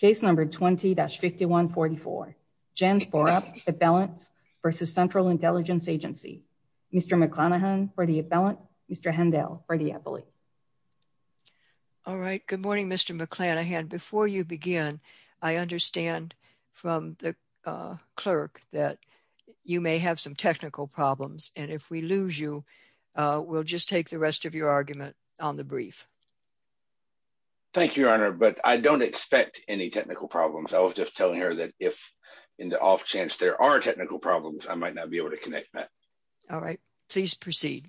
Case No. 20-5144. Jens Porup, Appellants v. Central Intelligence Agency. Mr. McClanahan for the Appellant. Mr. Hendel for the Appellant. All right. Good morning, Mr. McClanahan. Before you begin, I understand from the clerk that you may have some technical problems, and if we lose you, we'll just take the rest of your argument on the brief. Thank you, Your Honor, but I don't expect any technical problems. I was just telling her that if in the off chance there are technical problems, I might not be able to connect that. All right. Please proceed.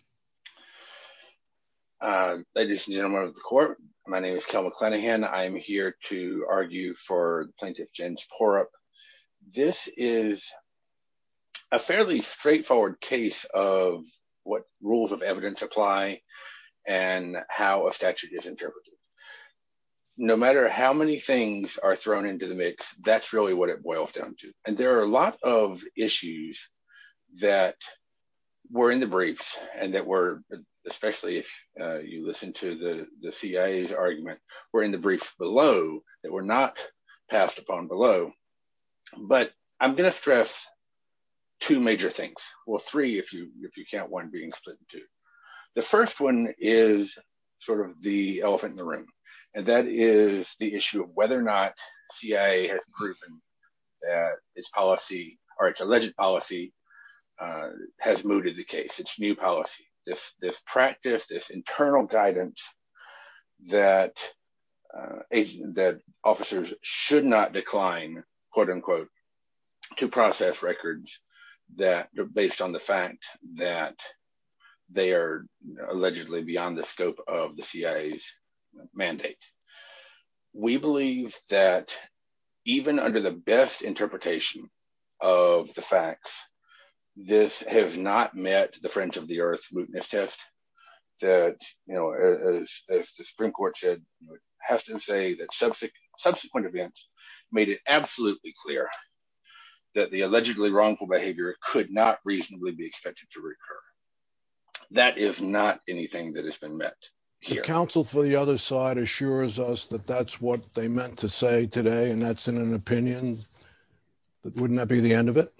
Ladies and gentlemen of the court, my name is Kel McClanahan. I am here to argue for Plaintiff Jens Porup. This is a fairly straightforward case of what rules of evidence apply and how a statute is interpreted. No matter how many things are thrown into the mix, that's really what it boils down to, and there are a lot of issues that were in the briefs, and that were, especially if you listen to the CIA's argument, were in the briefs below that were not passed upon below, but I'm going to stress two major things. Well, three if you can't one being split in two. The first one is sort of the elephant in the room, and that is the issue of whether or not CIA has proven that its alleged policy has mooted the case, its new policy. This practice, this internal guidance that officers should not decline, quote unquote, to process records that are based on the fact that they are allegedly beyond the scope of the CIA's mandate. We believe that even under the best interpretation of the facts, this has not met the fringe of the earth mootness test that, you know, as the Supreme Court said, has to say that subsequent events made it absolutely clear that the allegedly wrongful behavior could not reasonably be expected to recur. That is not anything that has been met here. The counsel for the other side assures us that that's what they meant to say today, and that's in an opinion, but wouldn't that be the end of it?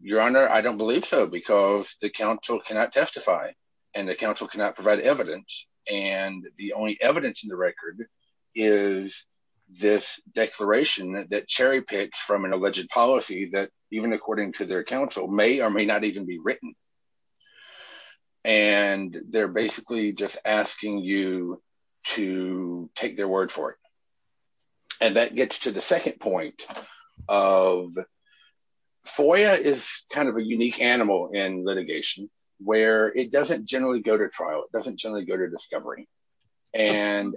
Your Honor, I don't believe so, because the counsel cannot testify, and the counsel cannot provide evidence, and the only evidence in the record is this declaration that cherry-picked from an alleged policy that even according to their counsel may or may not even be written, and they're basically just asking you to take their word for it, and that gets to the second point of FOIA is kind of a unique animal in litigation, where it doesn't generally go to trial, it doesn't generally go to discovery, and...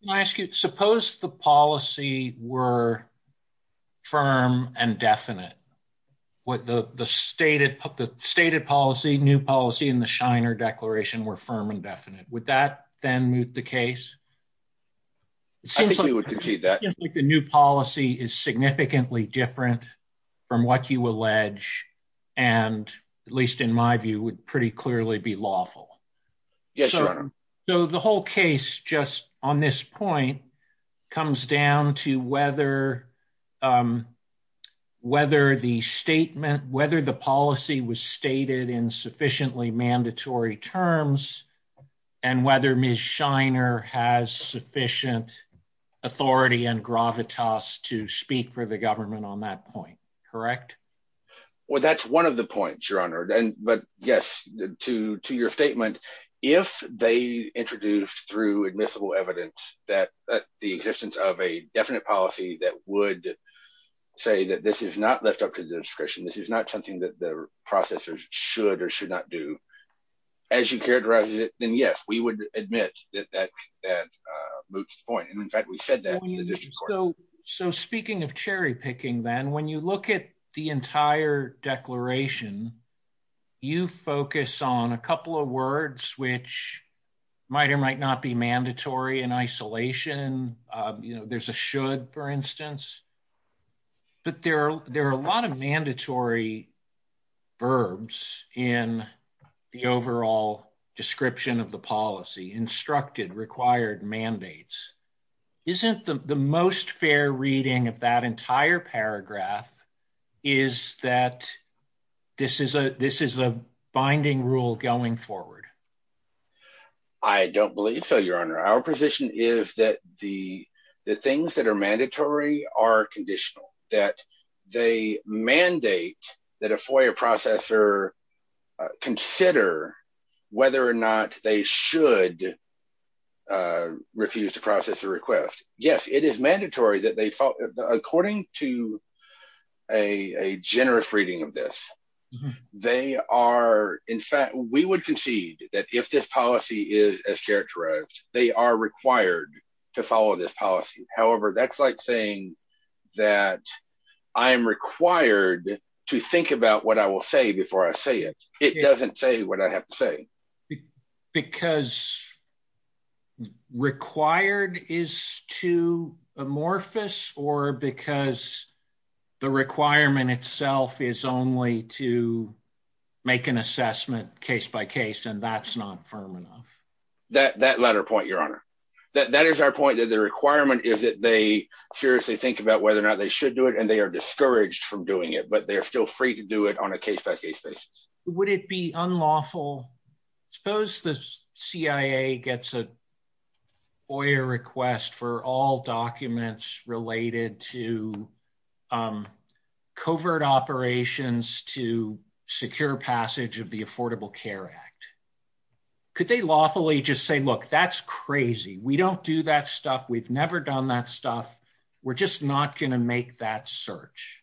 Can I ask you, suppose the policy were firm and definite, what the the stated, the stated policy, new policy, and the Shiner Declaration were firm and definite, would that then moot the case? I think we would concede that. It seems like the new policy is significantly different from what you allege, and at least in my view, would pretty clearly be lawful. Yes, Your Honor. So the whole case, just on this point, comes down to whether, whether the statement, whether the policy was stated in sufficiently mandatory terms, and whether Ms. Shiner has sufficient authority and gravitas to speak for the government on that point, correct? Well, that's one of the points, Your Honor, and, but yes, to, to your statement, if they introduced through admissible evidence that the existence of a definite policy that would say that this is not left up to the discretion, this is not something that the processers should or should not do, as you characterize it, then yes, we would admit that that, that moots the point, and in fact, we said that in the district court. So, so speaking of cherry-picking then, when you look at the entire declaration, you focus on a couple of words which might or might not be mandatory in isolation, you know, there's a should, for instance, but there are, there are a lot of mandatory verbs in the overall description of the policy, instructed required mandates. Isn't the most fair reading of that entire paragraph is that this is a, this is a binding rule going forward? I don't believe so, Your Honor. Our position is that the, the things that are mandatory are conditional, that they mandate that a FOIA processor consider whether or not they should refuse to process a request. Yes, it is mandatory that they, according to a, a generous reading of this, they are, in fact, we would concede that if this policy is as characterized, they are required to follow this policy. However, that's like saying that I am required to think about what I will say before I say it. It doesn't say what I have to say. Because required is too amorphous, or because the requirement itself is only to make an assessment case by case, and that's not firm enough. That, that latter point, Your Honor, that is our point that the requirement is that they seriously think about whether or not they should do it, and they are discouraged from doing it, but they are still free to do it on a case by case basis. Would it be unlawful? Suppose the um, covert operations to secure passage of the Affordable Care Act. Could they lawfully just say, look, that's crazy. We don't do that stuff. We've never done that stuff. We're just not going to make that search.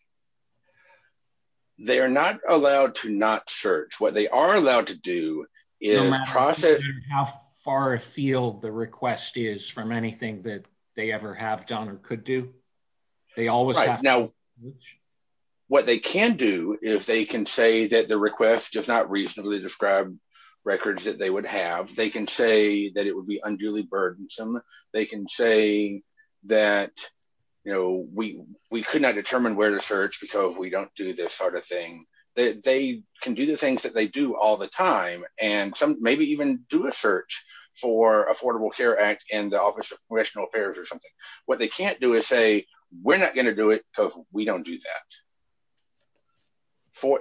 They are not allowed to not search. What they are allowed to do is process. How far afield the request is from anything that they ever have done or could do. They always have. Now, what they can do, if they can say that the request does not reasonably describe records that they would have, they can say that it would be unduly burdensome. They can say that, you know, we, we could not determine where to search because we don't do this sort of thing. They can do the things that they do all the time, and some maybe even do a search for Affordable Care Act and the Office of Congressional Affairs or something. What they can't do is say, we're not going to do it because we don't do that.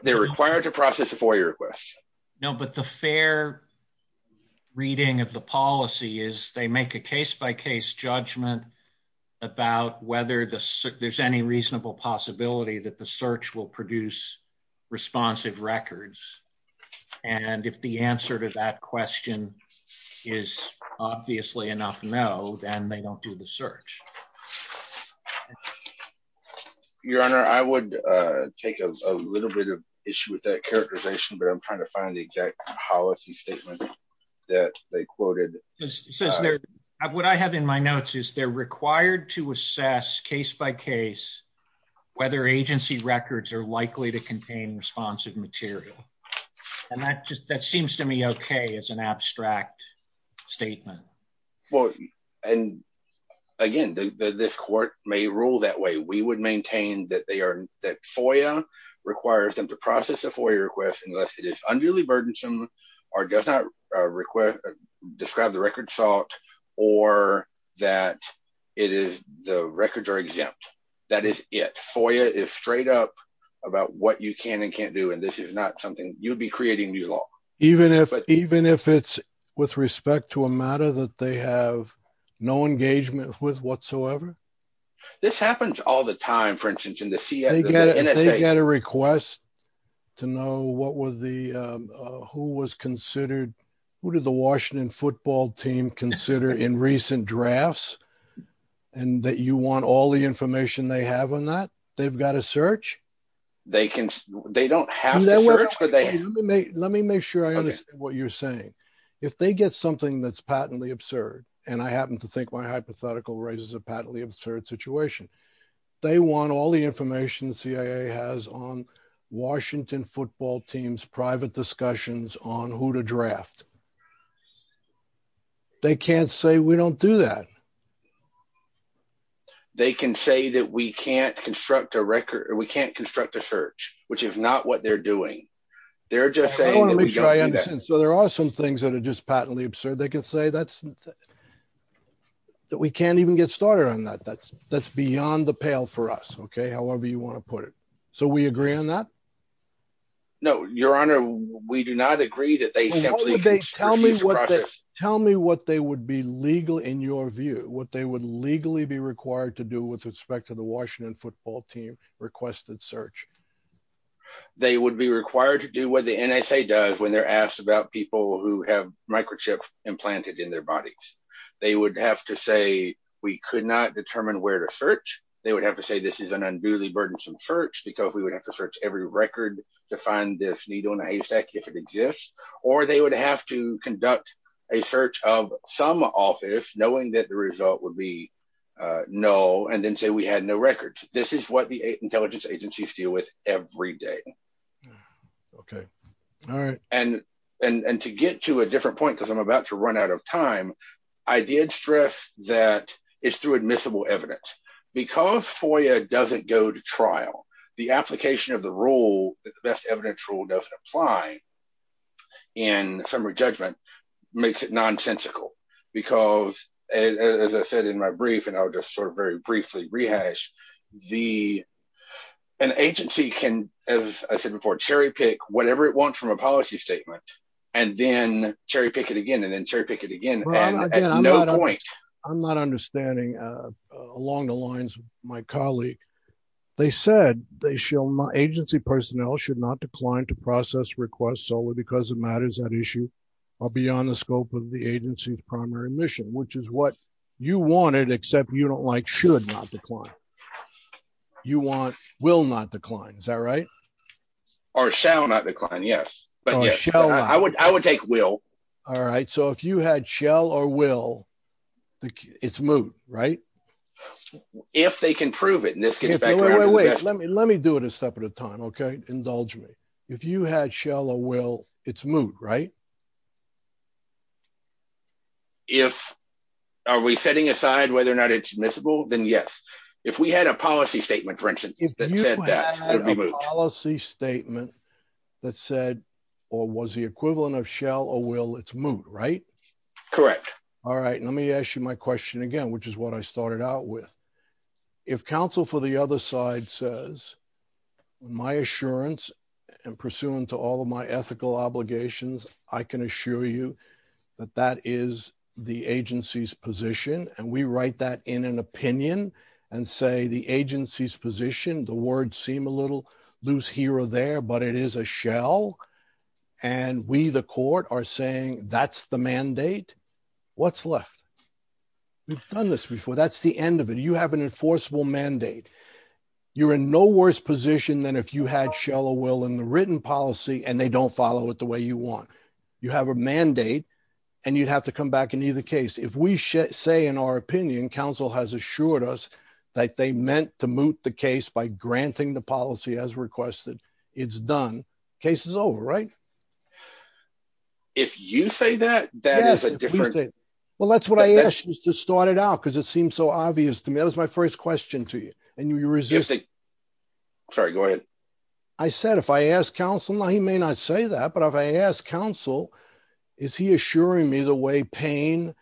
They're required to process a FOIA request. No, but the fair reading of the policy is they make a case by case judgment about whether there's any reasonable possibility that the search will produce responsive records. And if the answer to that question is obviously enough, no, then they don't do the search. Your Honor, I would take a little bit of issue with that characterization, but I'm trying to find the exact policy statement that they quoted. What I have in my notes is they're required to assess case by case whether agency records are likely to contain responsive material. And that just, that seems to me okay as an abstract statement. Well, and again, this court may rule that way. We would maintain that they are, that FOIA requires them to process a FOIA request unless it is unduly burdensome or does not request, describe the record salt or that it is the records are exempt. That is it. FOIA is straight up about what you can and can't do. And this is not something you'd be creating new law. Even if, even if it's with respect to a matter that they have no engagement with whatsoever. This happens all the time, for instance, in the CIA. They get a request to know what was the, who was considered, who did the Washington football team consider in recent drafts and that you want all the information they have on that? They've got to search. They can, they don't have to search, let me make sure I understand what you're saying. If they get something that's patently absurd, and I happen to think my hypothetical raises a patently absurd situation, they want all the information the CIA has on Washington football teams, private discussions on who to draft. They can't say we don't do that. They can say that we can't construct a record, which is not what they're doing. They're just saying. So there are some things that are just patently absurd. They can say that's that we can't even get started on that. That's that's beyond the pale for us. Okay. However you want to put it. So we agree on that. No, your honor, we do not agree that they simply tell me what they would be legal in your view, what they would legally be required to do with the Washington football team requested search. They would be required to do what the NSA does when they're asked about people who have microchips implanted in their bodies. They would have to say, we could not determine where to search. They would have to say, this is an unduly burdensome search because we would have to search every record to find this needle in a haystack if it exists, or they would have to conduct a search of some office knowing that the result would be no, and then say, we had no records. This is what the intelligence agencies deal with every day. Okay. All right. And, and, and to get to a different point, because I'm about to run out of time, I did stress that it's through admissible evidence, because FOIA doesn't go to trial, the application of the rule that the best evidence rule doesn't apply in summary judgment makes it nonsensical. Because as I said, in my brief, and I'll just sort of very briefly rehash the, an agency can, as I said before, cherry pick whatever it wants from a policy statement, and then cherry pick it again, and then cherry pick it again. I'm not understanding along the lines of my colleague. They said they shall not agency personnel should not decline to process requests solely because it matters that issue are beyond the scope of the agency's primary mission, which is what you wanted, except you don't like should not decline. You want will not decline. Is that right? Or shall not decline. Yes. But yeah, I would, I would take will. All right. So if you had shall or will, it's move, right? If they can prove it, and this gets back, wait, let me let me do it a step at a time. Okay, indulge me. If you had shall or will, it's move, right? If, are we setting aside whether or not it's admissible, then yes. If we had a policy statement, for instance, that said that policy statement that said, or was the equivalent of shall or will, it's move, right? Correct. All right. Let me ask you my question again, which is what I started out with. If counsel for the other side says, my assurance and pursuant to all of my ethical obligations, I can assure you that that is the agency's position. And we write that in an opinion and say the agency's position, the words seem a little loose here or there, but it is a shall. And we, the court are saying that's the mandate. What's left? We've done this before. That's the end of it. You have an enforceable mandate. You're in no worse position than if you had shall or will in the written policy and they don't follow it the way you want. You have a mandate and you'd have to come back in either case. If we say in our opinion, counsel has assured us that they meant to moot the case by granting the policy as requested. It's done. Case is over, right? If you say that, that is a different thing. Well, that's what I asked you to start it out because it seemed so obvious to me. That was my first question to you and you resisted. Sorry, go ahead. I said, if I asked counsel, he may not say that, but if I asked counsel, is he assuring me the way pain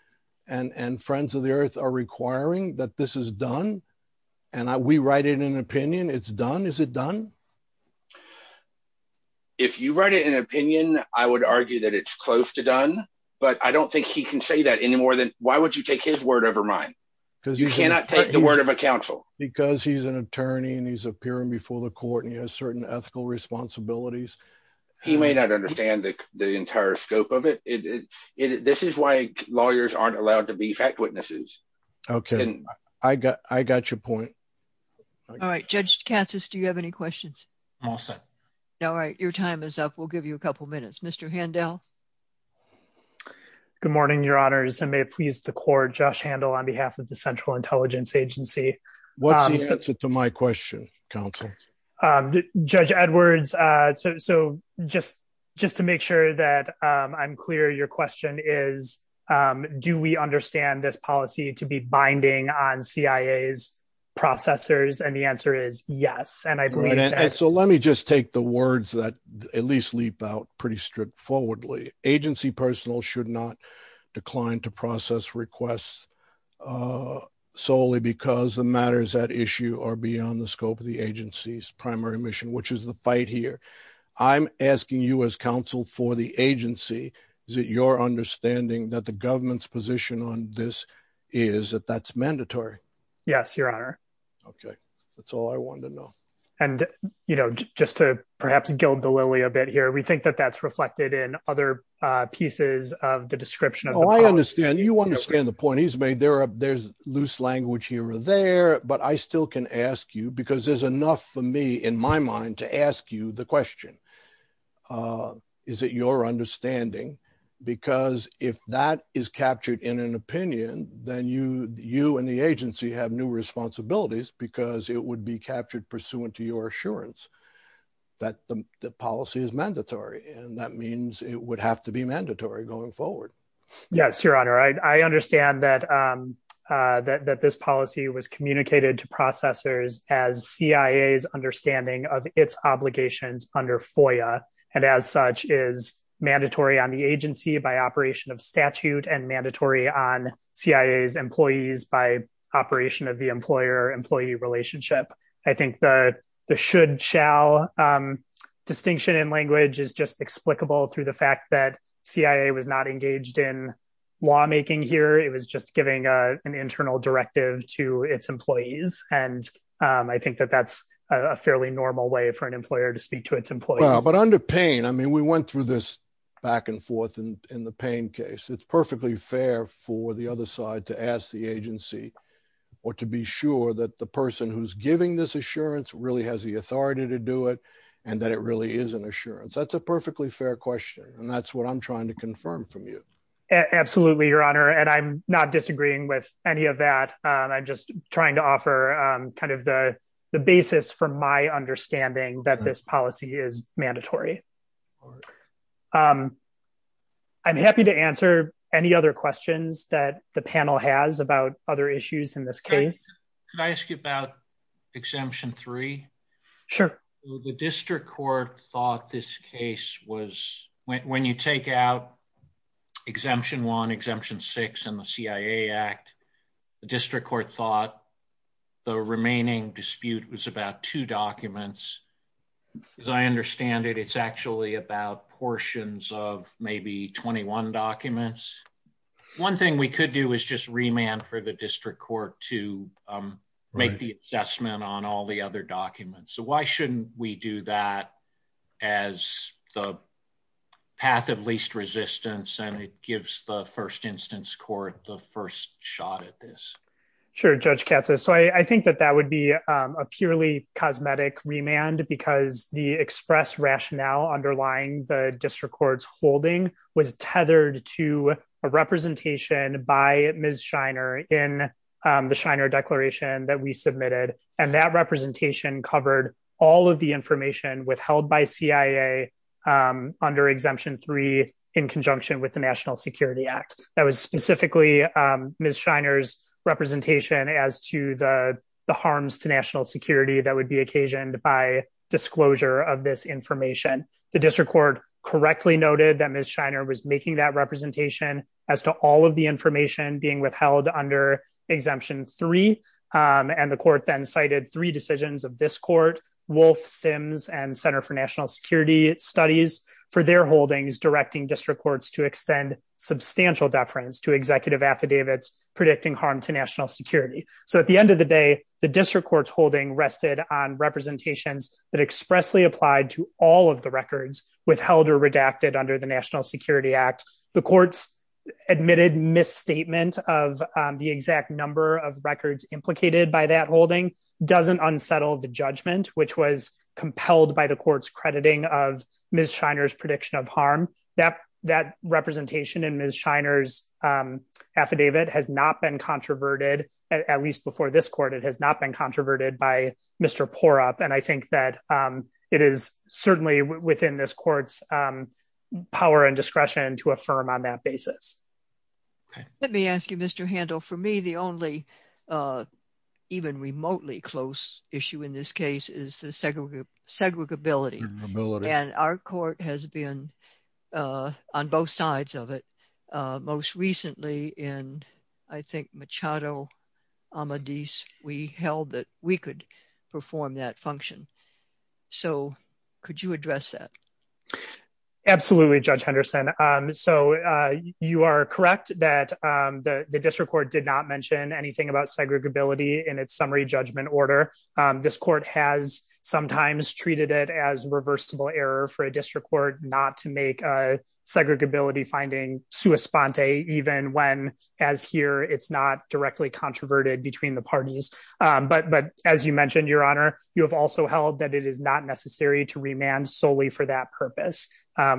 and friends of the earth are requiring that this is done? And I, we write it in an opinion, it's done. Is it done? If you write it in an opinion, I would argue that it's close to done, but I don't think he can say that any more than why would you take his word over mine? Because you cannot take the word of a counsel because he's an attorney and he's appearing before the court and he has certain ethical responsibilities. He may not understand the entire scope of it. It, it, it, this is why lawyers aren't allowed to be fact witnesses. Okay. I got, I got your point. All right. Judge Kansas. Do you have any questions? I'm all set. No, right. Your time is up. We'll give you a couple of minutes, Mr. Handel. Good morning, your honors. And may it please the court, Josh handle on behalf of the central intelligence agency. What's the answer to my question council judge Edwards? So, so just, just to make sure that I'm clear, your question is, do we understand this policy to be binding on CIAs processors? And the answer is yes. And I believe that. So let me just take the words that at least leap out pretty straightforwardly. Agency personal should not decline to process requests solely because the matters at issue are beyond the primary mission, which is the fight here. I'm asking you as counsel for the agency. Is it your understanding that the government's position on this is that that's mandatory? Yes, your honor. Okay. That's all I wanted to know. And, you know, just to perhaps gild the lily a bit here. We think that that's reflected in other pieces of the description. I understand you understand the point he's made there. There's loose language here or there, but I still can ask you because there's enough for me in my mind to ask you the question. Is it your understanding? Because if that is captured in an opinion, then you, you and the agency have new responsibilities because it would be captured pursuant to your assurance that the policy is mandatory. And that means it would have to be mandatory going forward. Yes, your honor. I understand that that, that this policy was communicated to processors as CIA's understanding of its obligations under FOIA and as such is mandatory on the agency by operation of statute and mandatory on CIA's employees by operation of the employer employee relationship. I think the, the should shall distinction in language is just explicable through the fact that CIA was not engaged in lawmaking here. It was just giving an internal directive to its employees. And I think that that's a fairly normal way for an employer to speak to its employees. But under pain, I mean, we went through this back and forth in the pain case. It's perfectly fair for the other side to ask the agency or to be sure that the person who's giving this assurance really has the authority to do it. And that it really is an assurance. That's a perfectly fair question. And that's what I'm your honor. And I'm not disagreeing with any of that. I'm just trying to offer kind of the basis for my understanding that this policy is mandatory. I'm happy to answer any other questions that the panel has about other issues in this case. Can I ask you about exemption three? Sure. The district court thought this case was when you take out exemption one exemption six and the CIA act, the district court thought the remaining dispute was about two documents. As I understand it, it's actually about portions of maybe 21 documents. One thing we could do is just remand for the as the path of least resistance. And it gives the first instance court the first shot at this. Sure. Judge Katza. So I think that that would be a purely cosmetic remand because the express rationale underlying the district court's holding was tethered to a representation by Ms. Shiner in the Shiner declaration that we submitted. And that representation covered all of the information withheld by CIA under exemption three in conjunction with the national security act. That was specifically Ms. Shiner's representation as to the harms to national security that would be occasioned by disclosure of this information. The district court correctly noted that Ms. Shiner was making that representation as to all of the information being withheld under exemption three. And the court then cited three decisions of this court, Wolf Sims and center for national security studies for their holdings, directing district courts to extend substantial deference to executive affidavits, predicting harm to national security. So at the end of the day, the district court's holding rested on representations that expressly applied to all of the records withheld or redacted under the national security act. The court's admitted misstatement of the exact number of records implicated by that holding doesn't unsettle the judgment, which was compelled by the court's crediting of Ms. Shiner's prediction of harm. That representation in Ms. Shiner's affidavit has not been controverted at least before this court, it has not been controverted by this court's power and discretion to affirm on that basis. Let me ask you, Mr. Handel, for me, the only even remotely close issue in this case is the segregability. And our court has been on both sides of it. Most recently in, I think Machado Amadeus, we held that we could perform that function. So could you address that? Absolutely, Judge Henderson. So you are correct that the district court did not mention anything about segregability in its summary judgment order. This court has sometimes treated it as reversible error for a district court not to make a segregability finding sua sponte even when, as here, it's not directly controverted between the parties. But as you mentioned, Your Honor, you have also held that it is not necessary to remand solely for that purpose.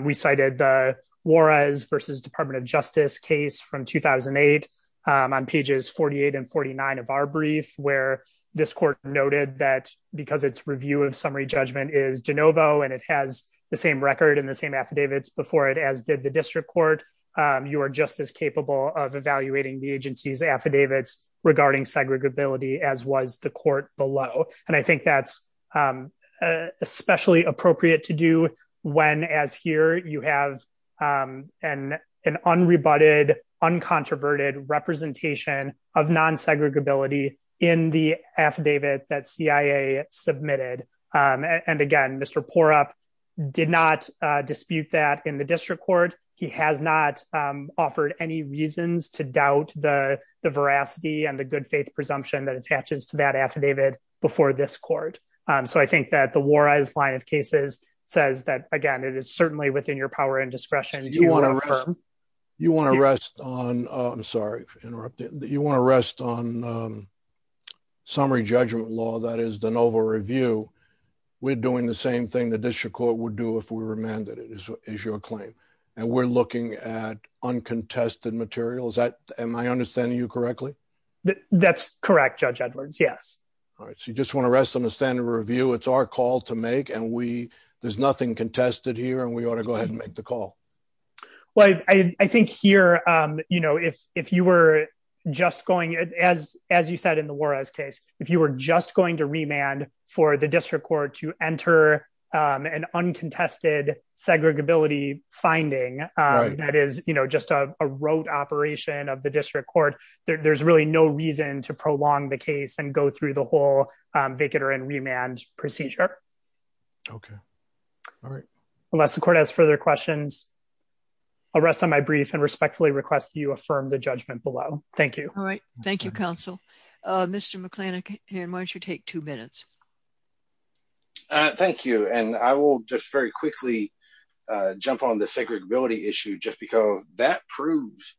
We cited the Juarez versus Department of Justice case from 2008 on pages 48 and 49 of our brief where this court noted that because its review of summary judgment is de novo, and it has the same record and the same affidavits before it as did the district court, you are just as capable of evaluating the agency's affidavits regarding segregability as was the court below. And I think that's especially appropriate to do when, as here, you have an unrebutted, uncontroverted representation of non-segregability in the affidavit that CIA submitted. And again, Mr. Porup did not dispute that in the district court. He has not offered any reasons to doubt the court. So I think that the Juarez line of cases says that, again, it is certainly within your power and discretion. You want to rest on summary judgment law, that is de novo review. We're doing the same thing the district court would do if we remanded it, is your claim. And we're looking at uncontested material. Am I understanding you correctly? That's correct, Judge Edwards. Yes. All right. So you just want to rest on the standard review. It's our call to make, and we, there's nothing contested here, and we ought to go ahead and make the call. Well, I think here, you know, if you were just going, as you said in the Juarez case, if you were just going to remand for the district court to enter an uncontested segregability finding, that is, you know, just a rote operation of the district court, there's really no reason to prolong the case and go through the whole vehicular and remand procedure. Okay. All right. Unless the court has further questions, I'll rest on my brief and respectfully request that you affirm the judgment below. Thank you. All right. Thank you, counsel. Mr. McLennan, why don't you take two minutes? Thank you. And I will just very quickly jump on the segregability issue just because that proves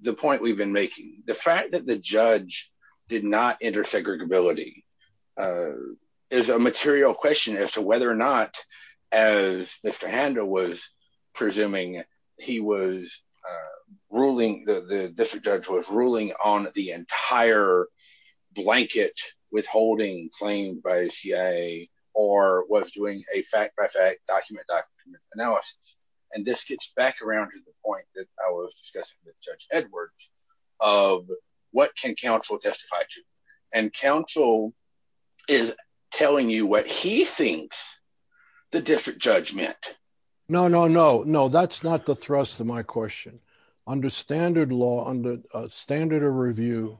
the point we've been making. The fact that the judge did not enter segregability is a material question as to whether or not, as Mr. Handa was presuming, he was ruling, the district judge was ruling on the entire blanket withholding claimed by CIA or was doing a fact-by-fact document analysis. And this gets back around to the point that I was discussing with Judge Edwards of what can counsel testify to? And counsel is telling you what he thinks the district judge meant. No, no, no. No, that's not the thrust of my question. Under standard law, under standard of review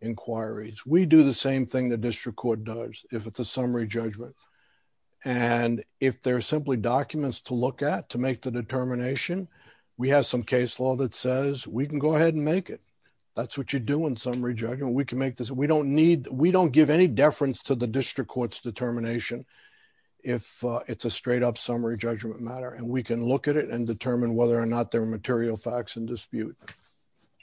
inquiries, we do the same thing the district court does if it's a summary judgment. And if they're simply documents to look at to make the determination, we have some case law that says we can go ahead and make it. That's what you do in summary judgment. We can make this. We don't need, we don't give any deference to the district court's determination if it's a straight up summary judgment matter. And we can look at it and determine whether or not there are material facts in dispute.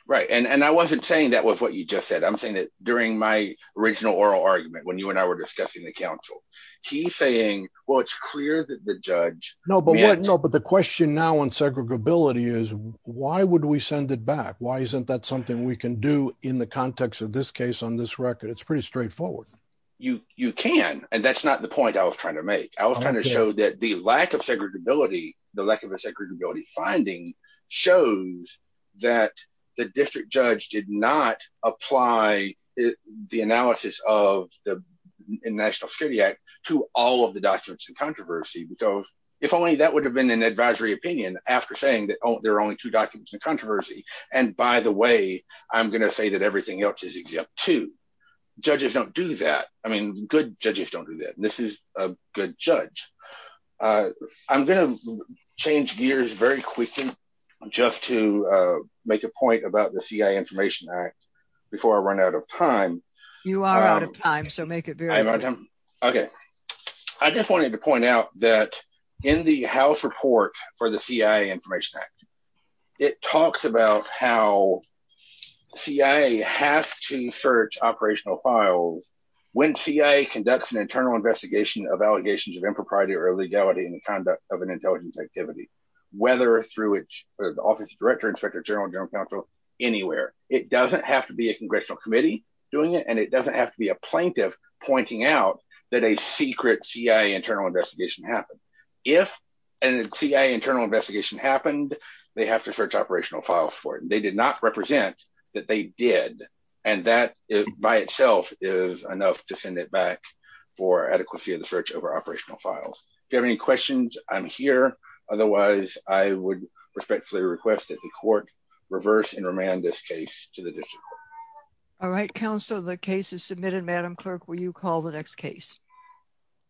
Right. And I wasn't saying that was what you just said. I'm saying that during my original oral argument, when you and I were discussing the counsel, he's saying, well, it's clear that the judge... No, but the question now on segregability is why would we send it back? Why isn't that something we can do in the context of this case on this record? It's pretty straightforward. You can. And that's not the point I was trying to make. I was trying to show that the lack of segregability, the lack of a segregability finding shows that the district judge did not apply the analysis of the National Security Act to all of the documents in controversy, because if only that would have been an advisory opinion after saying that there are only two documents in controversy. And by the way, I'm going to say that everything else is exempt too. Judges don't do that. I mean, good judges don't do that. And this is a good judge. I'm going to change gears very quickly, just to make a point about the CIA Information Act, before I run out of time. You are out of time, so make it very... Okay. I just wanted to point out that in the House report for the CIA Information Act, it talks about how CIA has to search operational files when CIA conducts an internal investigation of allegations of impropriety or illegality in conduct of an intelligence activity, whether through the Office of the Director, Inspector General, General Counsel, anywhere. It doesn't have to be a congressional committee doing it, and it doesn't have to be a plaintiff pointing out that a secret CIA internal investigation happened. If a CIA internal investigation happened, they have to search operational files for it. And they did not represent that they did. And that by itself is enough to send it back for adequacy search over operational files. If you have any questions, I'm here. Otherwise, I would respectfully request that the court reverse and remand this case to the district court. All right, counsel. The case is submitted. Madam Clerk, will you call the next case?